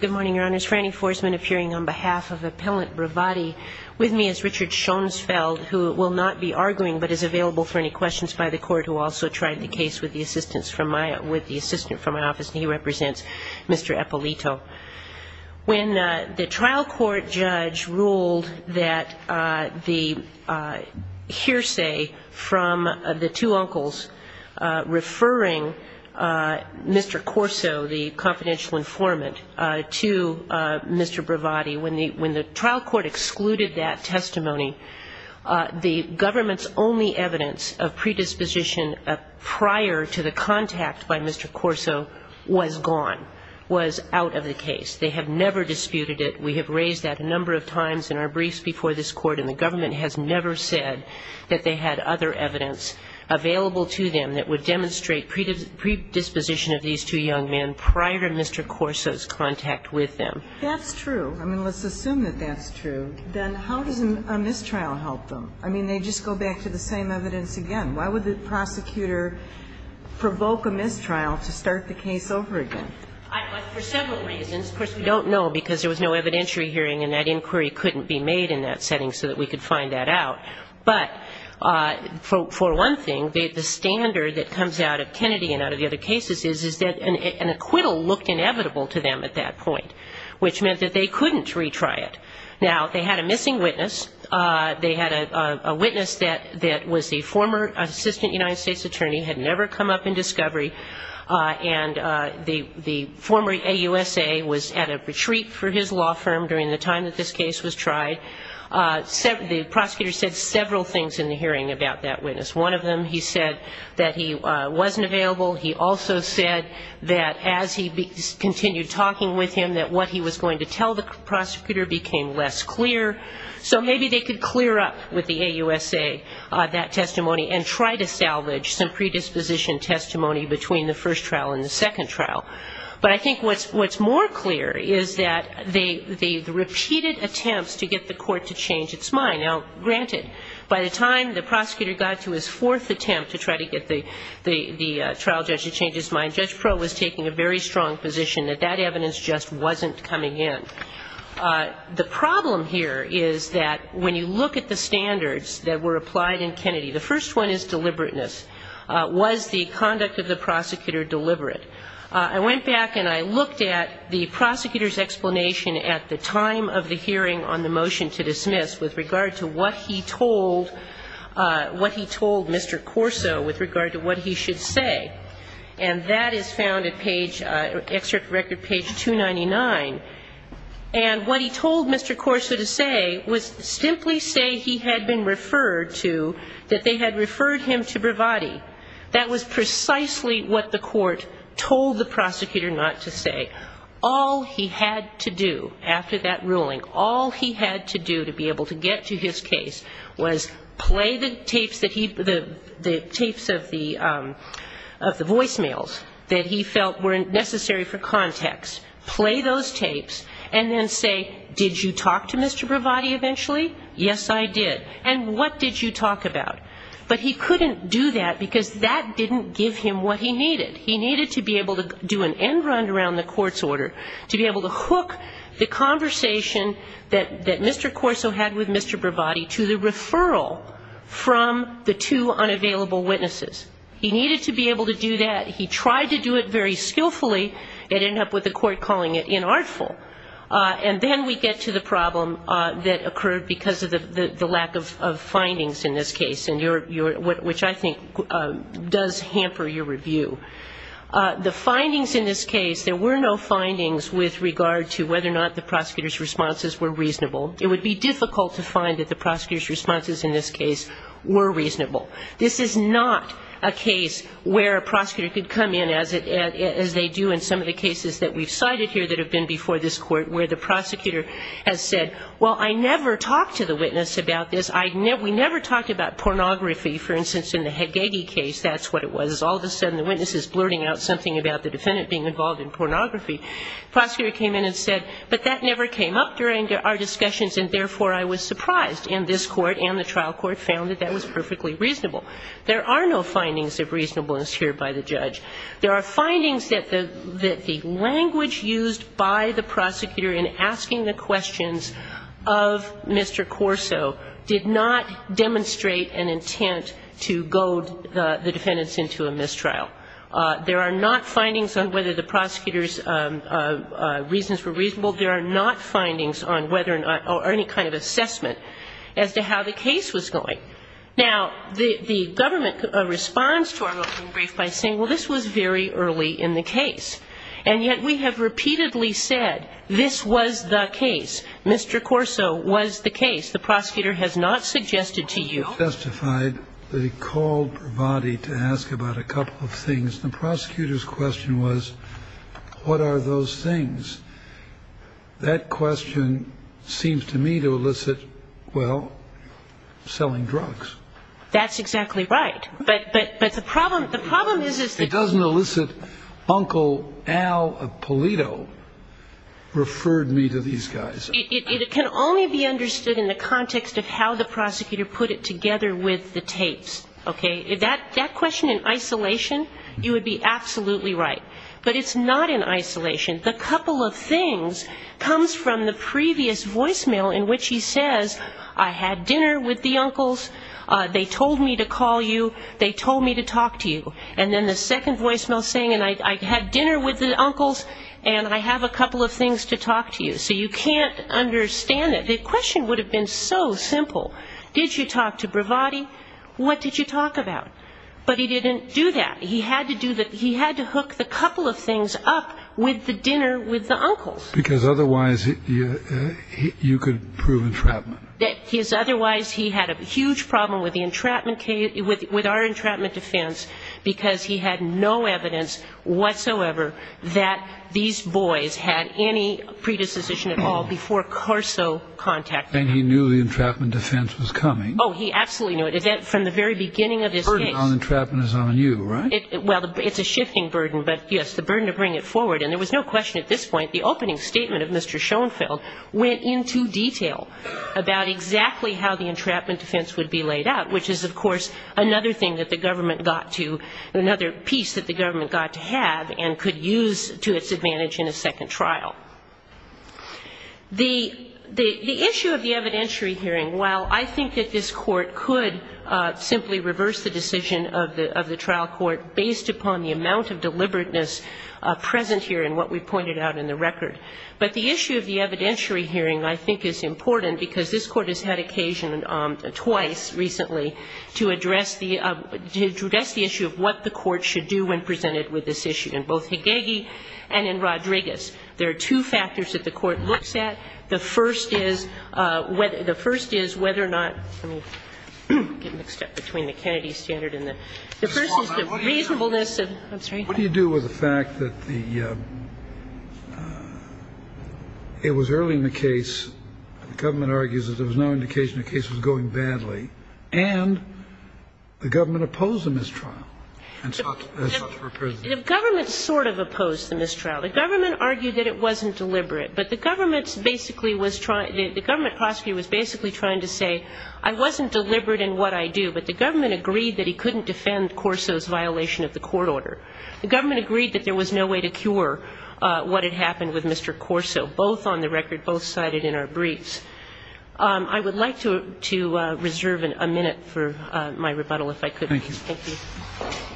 Good morning, Your Honors. Frannie Forsman appearing on behalf of Appellant Bravatti. With me is Richard Schoensfeld, who will not be arguing, but is available for any questions by the Court, who also tried the case with the assistance from my, with the assistant from my office, and he represents Mr. Eppolito. When the trial court judge ruled that the hearsay from the two uncles referring Mr. Corso, the confidential informant, to Mr. Bravatti, when the trial court excluded that testimony, the government's only evidence of predisposition prior to the contact by Mr. Corso was gone, was out of the case. They have never disputed it. We have raised that a number of times in our briefs before this Court, and the government has never said that they had other evidence available to them that would demonstrate predisposition of these two young men prior to Mr. Corso's contact with them. That's true. I mean, let's assume that that's true. Then how does a mistrial help them? I mean, they just go back to the same evidence again. Why would the prosecutor provoke a mistrial to start the case over again? For several reasons. Of course, we don't know because there was no evidentiary hearing, and that inquiry couldn't be made in that setting so that we could find that out. But for one thing, the standard that comes out of Kennedy and out of the other cases is that an acquittal looked inevitable to them at that point, which meant that they couldn't retry it. Now, they had a missing witness. They had a witness that was a former assistant United States attorney, had never come up in discovery, and the former AUSA was at a retreat for his law firm during the time that this case was tried. The prosecutor said several things in the hearing about that witness. One of them, he said that he wasn't available. He also said that as he continued talking with him, that what he was going to tell the prosecutor became less clear. So maybe they could clear up with the AUSA that testimony and try to salvage some predisposition testimony between the first trial and the second trial. But I think what's more clear is that the repeated attempts to get the court to change its mind. Now, granted, by the time the prosecutor got to his fourth attempt to try to get the trial judge to change his mind, Judge Proh was taking a very strong position that that evidence just wasn't coming in. The problem here is that when you look at the standards that were applied in Kennedy, the first one is deliberateness. Was the conduct of the prosecutor deliberate? I went back and I looked at the prosecutor's explanation at the time of the hearing on the motion to dismiss with regard to what he told Mr. Corso with regard to what he should say. And that is found at page, excerpt record page 299. And what he told Mr. Corso to say was simply say he had been referred to, that they had referred him to Bravatti. That was precisely what the court told the prosecutor not to say. All he had to do after that ruling, all he had to do to be able to get to his case, was play the tapes of the voicemails that he felt were necessary for context, play those tapes, and then say, did you talk to Mr. Bravatti eventually? Yes, I did. And what did you talk about? But he couldn't do that because that didn't give him what he needed. He needed to be able to do an end run around the court's order, to be able to hook the conversation that Mr. Corso had with Mr. Bravatti to the referral from the two unavailable witnesses. He needed to be able to do that. He tried to do it very skillfully. It ended up with the court calling it inartful. And then we get to the problem that occurred because of the lack of findings in this case, which I think does hamper your review. The findings in this case, there were no findings with regard to whether or not the prosecutor's responses were reasonable. It would be difficult to find that the prosecutor's responses in this case were reasonable. This is not a case where a prosecutor could come in, as they do in some of the cases that we've cited here that have been before this court, where the prosecutor has said, well, I never talked to the witness about this. We never talked about pornography. For instance, in the Hagegi case, that's what it was. All of a sudden the witness is blurting out something about the defendant being involved in pornography. The prosecutor came in and said, but that never came up during our discussions and therefore I was surprised. And this court and the trial court found that that was perfectly reasonable. There are no findings of reasonableness here by the judge. There are findings that the language used by the prosecutor in asking the questions of Mr. Corso did not demonstrate an intent to goad the defendants into a mistrial. There are not findings on whether the prosecutor's reasons were reasonable. There are not findings on whether or any kind of assessment as to how the case was going. Now, the government responds to our opening brief by saying, well, this was very early in the case. And yet we have repeatedly said this was the case. Mr. Corso was the case. The prosecutor has not suggested to you. He testified that he called Bravati to ask about a couple of things. The prosecutor's question was, what are those things? That question seems to me to elicit, well, selling drugs. That's exactly right. But the problem is that he doesn't elicit Uncle Al Polito referred me to these guys. It can only be understood in the context of how the prosecutor put it together with the tapes. Okay? That question in isolation, you would be absolutely right. But it's not in isolation. The couple of things comes from the previous voicemail in which he says, I had dinner with the uncles. They told me to call you. They told me to talk to you. And then the second voicemail saying, I had dinner with the uncles, and I have a couple of things to talk to you. So you can't understand it. The question would have been so simple. Did you talk to Bravati? What did you talk about? But he didn't do that. He had to hook the couple of things up with the dinner with the uncles. Because otherwise you could prove entrapment. Otherwise he had a huge problem with the entrapment case, with our entrapment defense, because he had no evidence whatsoever that these boys had any predisposition at all before Carso contacted them. And he knew the entrapment defense was coming. Oh, he absolutely knew it. From the very beginning of this case. The burden on the entrapment is on you, right? Well, it's a shifting burden. But, yes, the burden to bring it forward. And there was no question at this point, the opening statement of Mr. Schoenfeld went into detail about exactly how the entrapment defense would be laid out, which is, of course, another thing that the government got to, another piece that the government got to have and could use to its advantage in a second trial. The issue of the evidentiary hearing, while I think that this Court could simply reverse the decision of the trial court based upon the amount of deliberateness present here in what we pointed out in the record, but the issue of the evidentiary hearing, I think, is important because this Court has had occasion twice recently to address the issue of what the Court should do when presented with this issue in both Hagegi and in Rodriguez. There are two factors that the Court looks at. The first is whether or not, let me get mixed up between the Kennedy standard and the, the first is the reasonableness of, I'm sorry. What do you do with the fact that the, it was early in the case, the government argues that there was no indication the case was going badly, and the government opposed the mistrial. The government sort of opposed the mistrial. The government argued that it wasn't deliberate, but the government basically was trying, the government prosecutor was basically trying to say, I wasn't deliberate in what I do, but the government agreed that he couldn't defend Corso's violation of the court order. The government agreed that there was no way to cure what had happened with Mr. Corso, both on the record, both cited in our briefs. I would like to reserve a minute for my rebuttal if I could. Thank you. Thank you.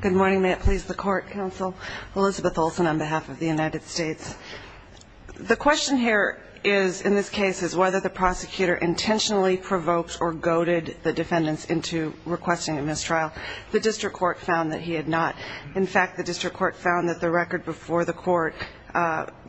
Good morning. May it please the Court, Counsel. Elizabeth Olsen on behalf of the United States. The question here is, in this case, is whether the prosecutor intentionally provoked or goaded the defendants into requesting a mistrial. The district court found that he had not. In fact, the district court found that the record before the court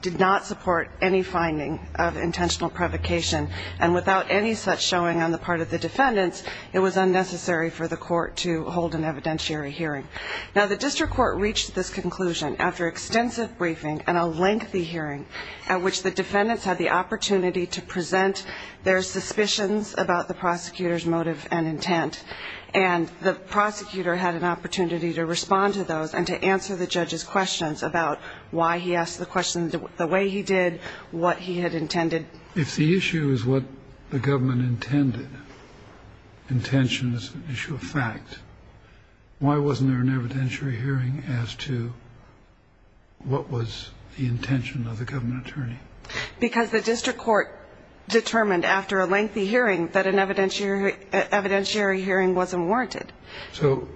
did not support any finding of intentional provocation, and without any such showing on the part of the defendants, it was unnecessary for the court to hold an evidentiary hearing. Now, the district court reached this conclusion after extensive briefing and a lengthy hearing at which the defendants had the opportunity to present their suspicions about the prosecutor's motive and intent, and the prosecutor had an opportunity to respond to those and to answer the judge's questions about why he asked the questions the way he did, what he had intended. If the issue is what the government intended, intention is an issue of fact, why wasn't there an evidentiary hearing as to what was the intention of the government attorney? Because the district court determined after a lengthy hearing that an evidentiary hearing wasn't warranted. So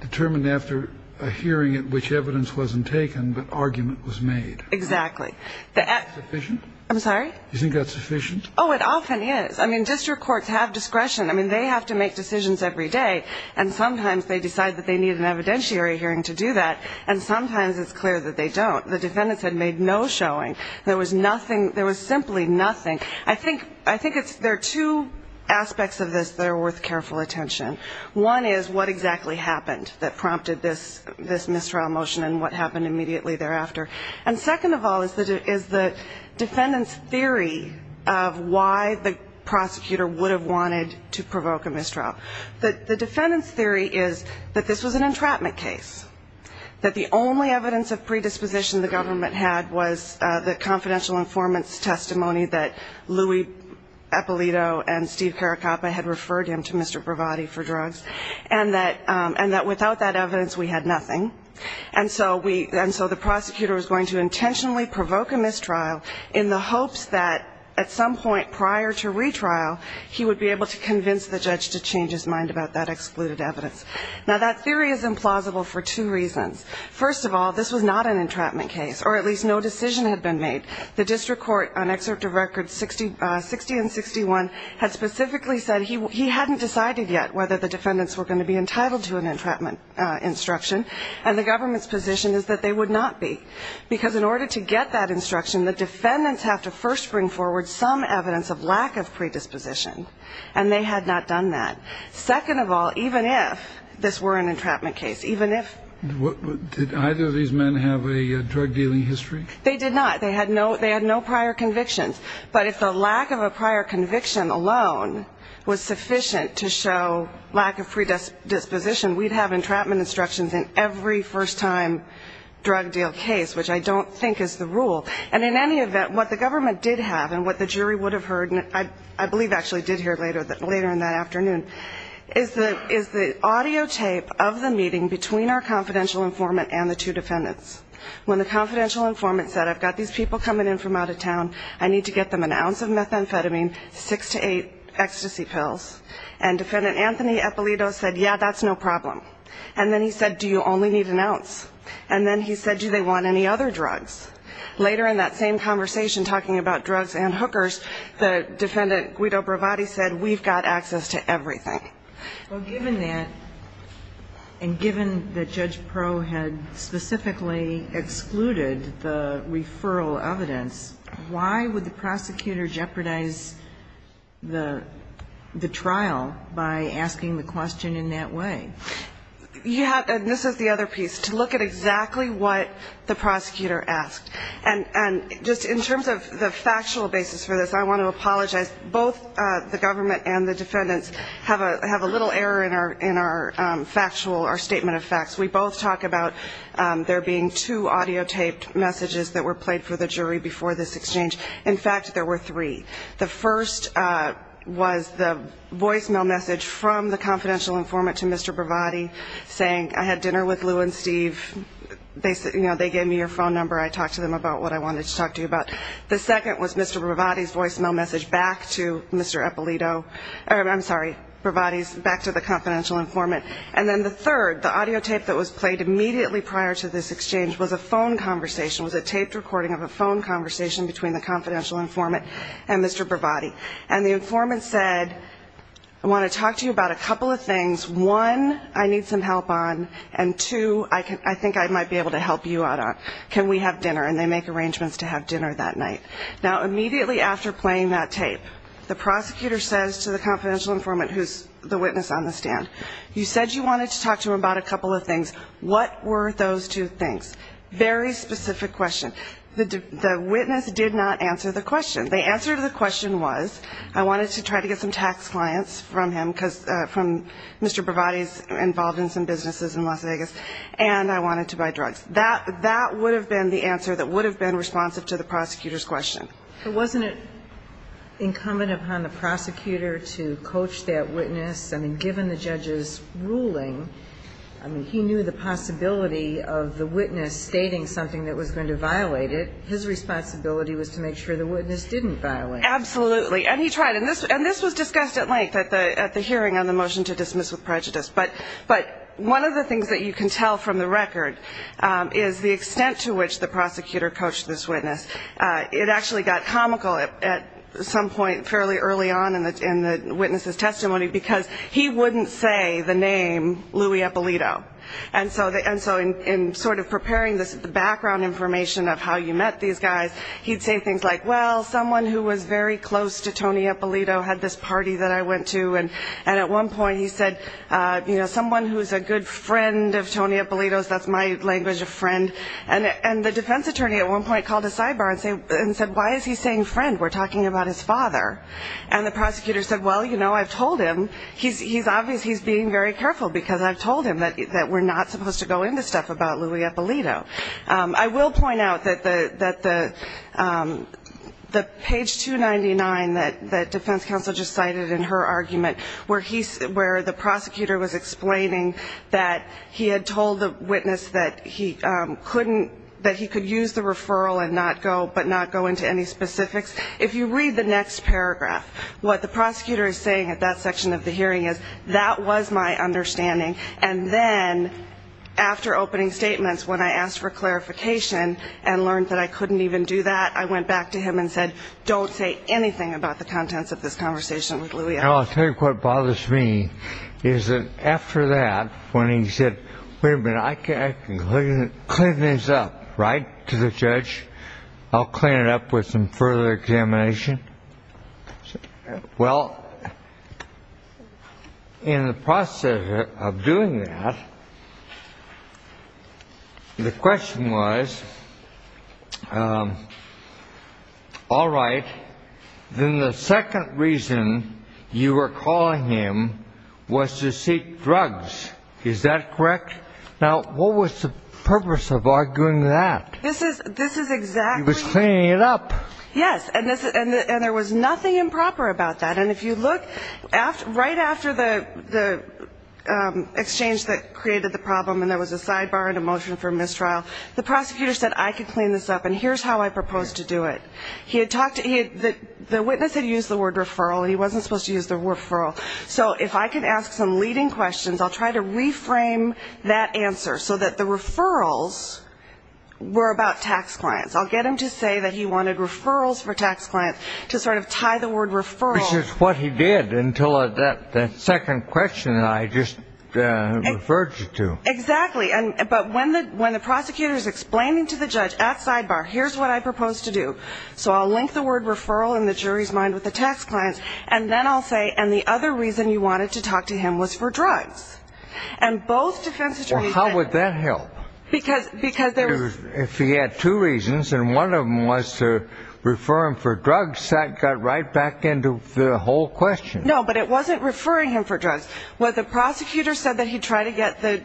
determined after a hearing at which evidence wasn't taken, but argument was made. Exactly. Is that sufficient? I'm sorry? Do you think that's sufficient? Oh, it often is. I mean, district courts have discretion. I mean, they have to make decisions every day, and sometimes they decide that they need an evidentiary hearing to do that, and sometimes it's clear that they don't. The defendants had made no showing. There was simply nothing. I think there are two aspects of this that are worth careful attention. One is what exactly happened that prompted this mistrial motion and what happened immediately thereafter. And second of all is the defendant's theory of why the prosecutor would have wanted to provoke a mistrial. The defendant's theory is that this was an entrapment case, that the only evidence of predisposition the government had was the confidential informant's testimony that Louis Eppolito and Steve Caracappa had referred him to Mr. Bravatti for drugs, and that without that evidence we had nothing. And so the prosecutor was going to intentionally provoke a mistrial in the hopes that at some point prior to retrial, he would be able to convince the judge to change his mind about that excluded evidence. Now, that theory is implausible for two reasons. First of all, this was not an entrapment case, or at least no decision had been made. The district court on Excerpt of Records 60 and 61 had specifically said he hadn't decided yet whether the defendants were going to be entitled to an entrapment instruction, and the government's position is that they would not be. Because in order to get that instruction, the defendants have to first bring forward some evidence of lack of predisposition, and they had not done that. Second of all, even if this were an entrapment case, even if ---- Did either of these men have a drug-dealing history? They did not. They had no prior convictions. But if the lack of a prior conviction alone was sufficient to show lack of predisposition, we'd have entrapment instructions in every first-time drug-deal case, which I don't think is the rule. And in any event, what the government did have and what the jury would have heard, I believe actually did hear later in that afternoon, is the audio tape of the meeting between our confidential informant and the two defendants. When the confidential informant said, I've got these people coming in from out of town, I need to get them an ounce of methamphetamine, six to eight ecstasy pills, and defendant Anthony Eppolito said, yeah, that's no problem. And then he said, do you only need an ounce? And then he said, do they want any other drugs? Later in that same conversation talking about drugs and hookers, the defendant Guido Bravatti said, we've got access to everything. Well, given that, and given that Judge Pro had specifically excluded the referral evidence, why would the prosecutor jeopardize the trial by asking the question in that way? Yeah, and this is the other piece, to look at exactly what the prosecutor asked. And just in terms of the factual basis for this, I want to apologize. Both the government and the defendants have a little error in our factual, our statement of facts. We both talk about there being two audio taped messages that were played for the jury before this exchange. In fact, there were three. The first was the voicemail message from the confidential informant to Mr. Bravatti, saying I had dinner with Lou and Steve, they gave me your phone number, I talked to them about what I wanted to talk to you about. The second was Mr. Bravatti's voicemail message back to Mr. Eppolito, I'm sorry, Bravatti's, back to the confidential informant. And then the third, the audio tape that was played immediately prior to this exchange, was a phone conversation, was a taped recording of a phone conversation between the confidential informant and Mr. Bravatti. And the informant said, I want to talk to you about a couple of things. One, I need some help on, and two, I think I might be able to help you out on. Can we have dinner? And they make arrangements to have dinner that night. Now, immediately after playing that tape, the prosecutor says to the confidential informant, who's the witness on the stand, you said you wanted to talk to him about a couple of things. What were those two things? Very specific question. The witness did not answer the question. The answer to the question was, I wanted to try to get some tax clients from him, from Mr. Bravatti's involvement in some businesses in Las Vegas, and I wanted to buy drugs. That would have been the answer that would have been responsive to the prosecutor's question. But wasn't it incumbent upon the prosecutor to coach that witness? I mean, given the judge's ruling, I mean, he knew the possibility of the witness stating something that was going to violate it. His responsibility was to make sure the witness didn't violate it. Absolutely. And he tried. And this was discussed at length at the hearing on the motion to dismiss with prejudice. But one of the things that you can tell from the record is the extent to which the prosecutor coached this witness. It actually got comical at some point fairly early on in the witness's testimony because he wouldn't say the name Louis Eppolito. And so in sort of preparing the background information of how you met these guys, he'd say things like, well, someone who was very close to Tony Eppolito had this party that I went to. And at one point he said, you know, someone who's a good friend of Tony Eppolito's. That's my language of friend. And the defense attorney at one point called a sidebar and said, why is he saying friend? We're talking about his father. And the prosecutor said, well, you know, I've told him. He's being very careful because I've told him that we're not supposed to go into stuff about Louis Eppolito. I will point out that the page 299 that defense counsel just cited in her argument, where the prosecutor was explaining that he had told the witness that he could use the referral but not go into any specifics, if you read the next paragraph, what the prosecutor is saying at that section of the hearing is that was my understanding. And then after opening statements, when I asked for clarification and learned that I couldn't even do that, I went back to him and said, don't say anything about the contents of this conversation with Louis Eppolito. I'll tell you what bothers me is that after that, when he said, wait a minute, I can clean this up, right, to the judge, I'll clean it up with some further examination. Well, in the process of doing that, the question was, all right, then the second reason you were calling him was to seek drugs. Is that correct? Now, what was the purpose of arguing that? This is exactly... He was cleaning it up. Yes. And there was nothing improper about that. And if you look, right after the exchange that created the problem and there was a sidebar and a motion for mistrial, the prosecutor said, I can clean this up, and here's how I propose to do it. The witness had used the word referral. He wasn't supposed to use the word referral. So if I could ask some leading questions, I'll try to reframe that answer so that the referrals were about tax clients. I'll get him to say that he wanted referrals for tax clients to sort of tie the word referral. Which is what he did until that second question that I just referred you to. Exactly. But when the prosecutor is explaining to the judge at sidebar, here's what I propose to do. So I'll link the word referral in the jury's mind with the tax clients, and then I'll say, and the other reason you wanted to talk to him was for drugs. And both defense attorneys... Well, how would that help? Because there was... If he had two reasons and one of them was to refer him for drugs, that got right back into the whole question. No, but it wasn't referring him for drugs. What the prosecutor said that he tried to get the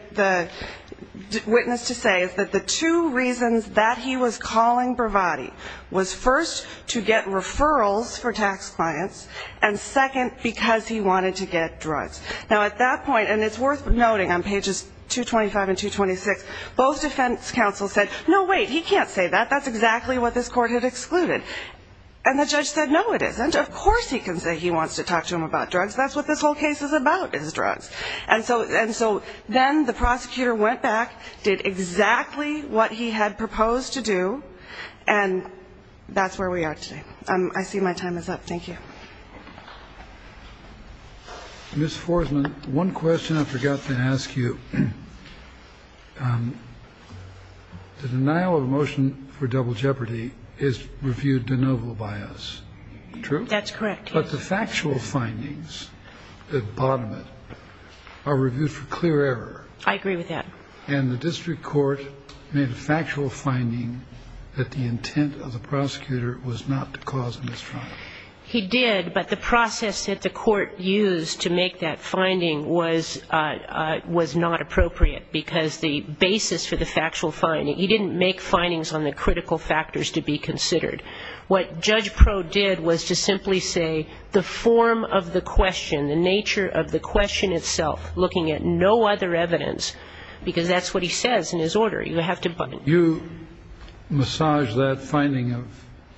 witness to say is that the two reasons that he was calling Bravatti was first, to get referrals for tax clients, and second, because he wanted to get drugs. Now at that point, and it's worth noting on pages 225 and 226, both defense counsels said, no, wait, he can't say that, that's exactly what this court had excluded. And the judge said, no, it isn't, of course he can say he wants to talk to him about drugs, that's what this whole case is about is drugs. And so then the prosecutor went back, did exactly what he had proposed to do, and that's where we are today. I see my time is up. Thank you. Ms. Forsman, one question I forgot to ask you. The denial of a motion for double jeopardy is reviewed de novo by us, true? That's correct. But the factual findings that bottom it are reviewed for clear error. I agree with that. And the district court made a factual finding that the intent of the prosecutor was not to cause a misdemeanor. He did, but the process that the court used to make that finding was not appropriate because the basis for the factual finding, he didn't make findings on the critical factors to be considered. What Judge Pro did was to simply say the form of the question, the nature of the question itself, looking at no other evidence, because that's what he says in his order. You have to button it. You massaged that finding of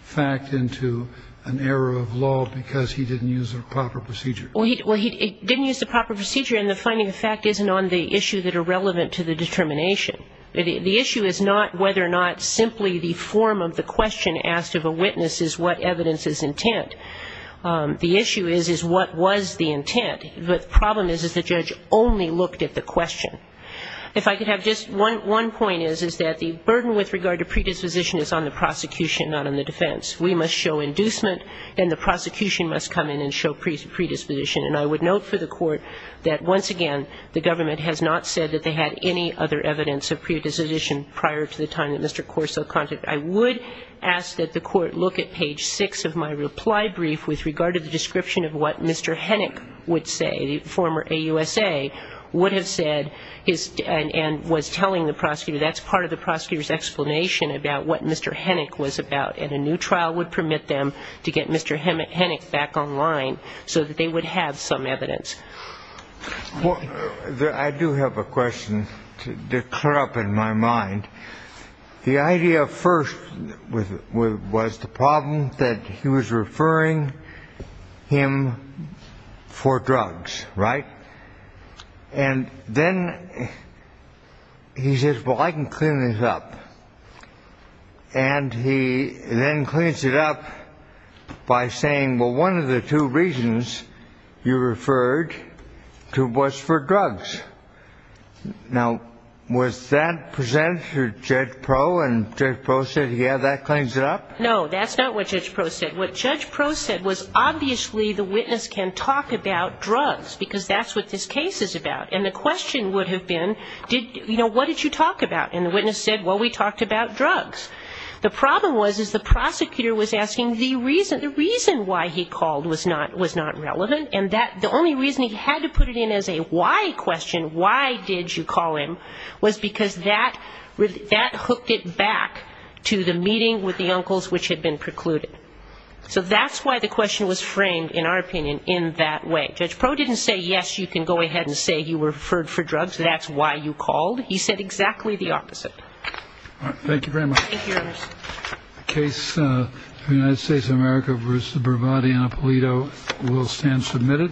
fact into an error of law because he didn't use the proper procedure? Well, he didn't use the proper procedure, and the finding of fact isn't on the issue that are relevant to the determination. The issue is not whether or not simply the form of the question asked of a witness is what evidence is intent. The issue is, is what was the intent. The problem is, is the judge only looked at the question. If I could have just one point is, is that the burden with regard to predisposition is on the prosecution, not on the defense. We must show inducement, and the prosecution must come in and show predisposition. And I would note for the court that, once again, the government has not said that they had any other evidence of predisposition prior to the time that Mr. Corso contacted. I would ask that the court look at page 6 of my reply brief with regard to the description of what Mr. Hennick would say. The former AUSA would have said, and was telling the prosecutor, that's part of the prosecutor's explanation about what Mr. Hennick was about. And a new trial would permit them to get Mr. Hennick back online so that they would have some evidence. I do have a question to clear up in my mind. The idea first was the problem that he was referring him for drugs, right? And then he says, well, I can clean this up. And he then cleans it up by saying, well, one of the two reasons you referred to was for drugs. Now, was that presented to Judge Proe, and Judge Proe said, yeah, that cleans it up? No, that's not what Judge Proe said. What Judge Proe said was, obviously, the witness can talk about drugs because that's what this case is about. And the question would have been, you know, what did you talk about? And the witness said, well, we talked about drugs. The problem was is the prosecutor was asking the reason why he called was not relevant, and the only reason he had to put it in as a why question, why did you call him, was because that hooked it back to the meeting with the uncles which had been precluded. So that's why the question was framed, in our opinion, in that way. Judge Proe didn't say, yes, you can go ahead and say you referred for drugs, that's why you called. He said exactly the opposite. All right. Thank you very much. Thank you, Ernest. The case of the United States of America v. Bravati and Apolito will stand submitted.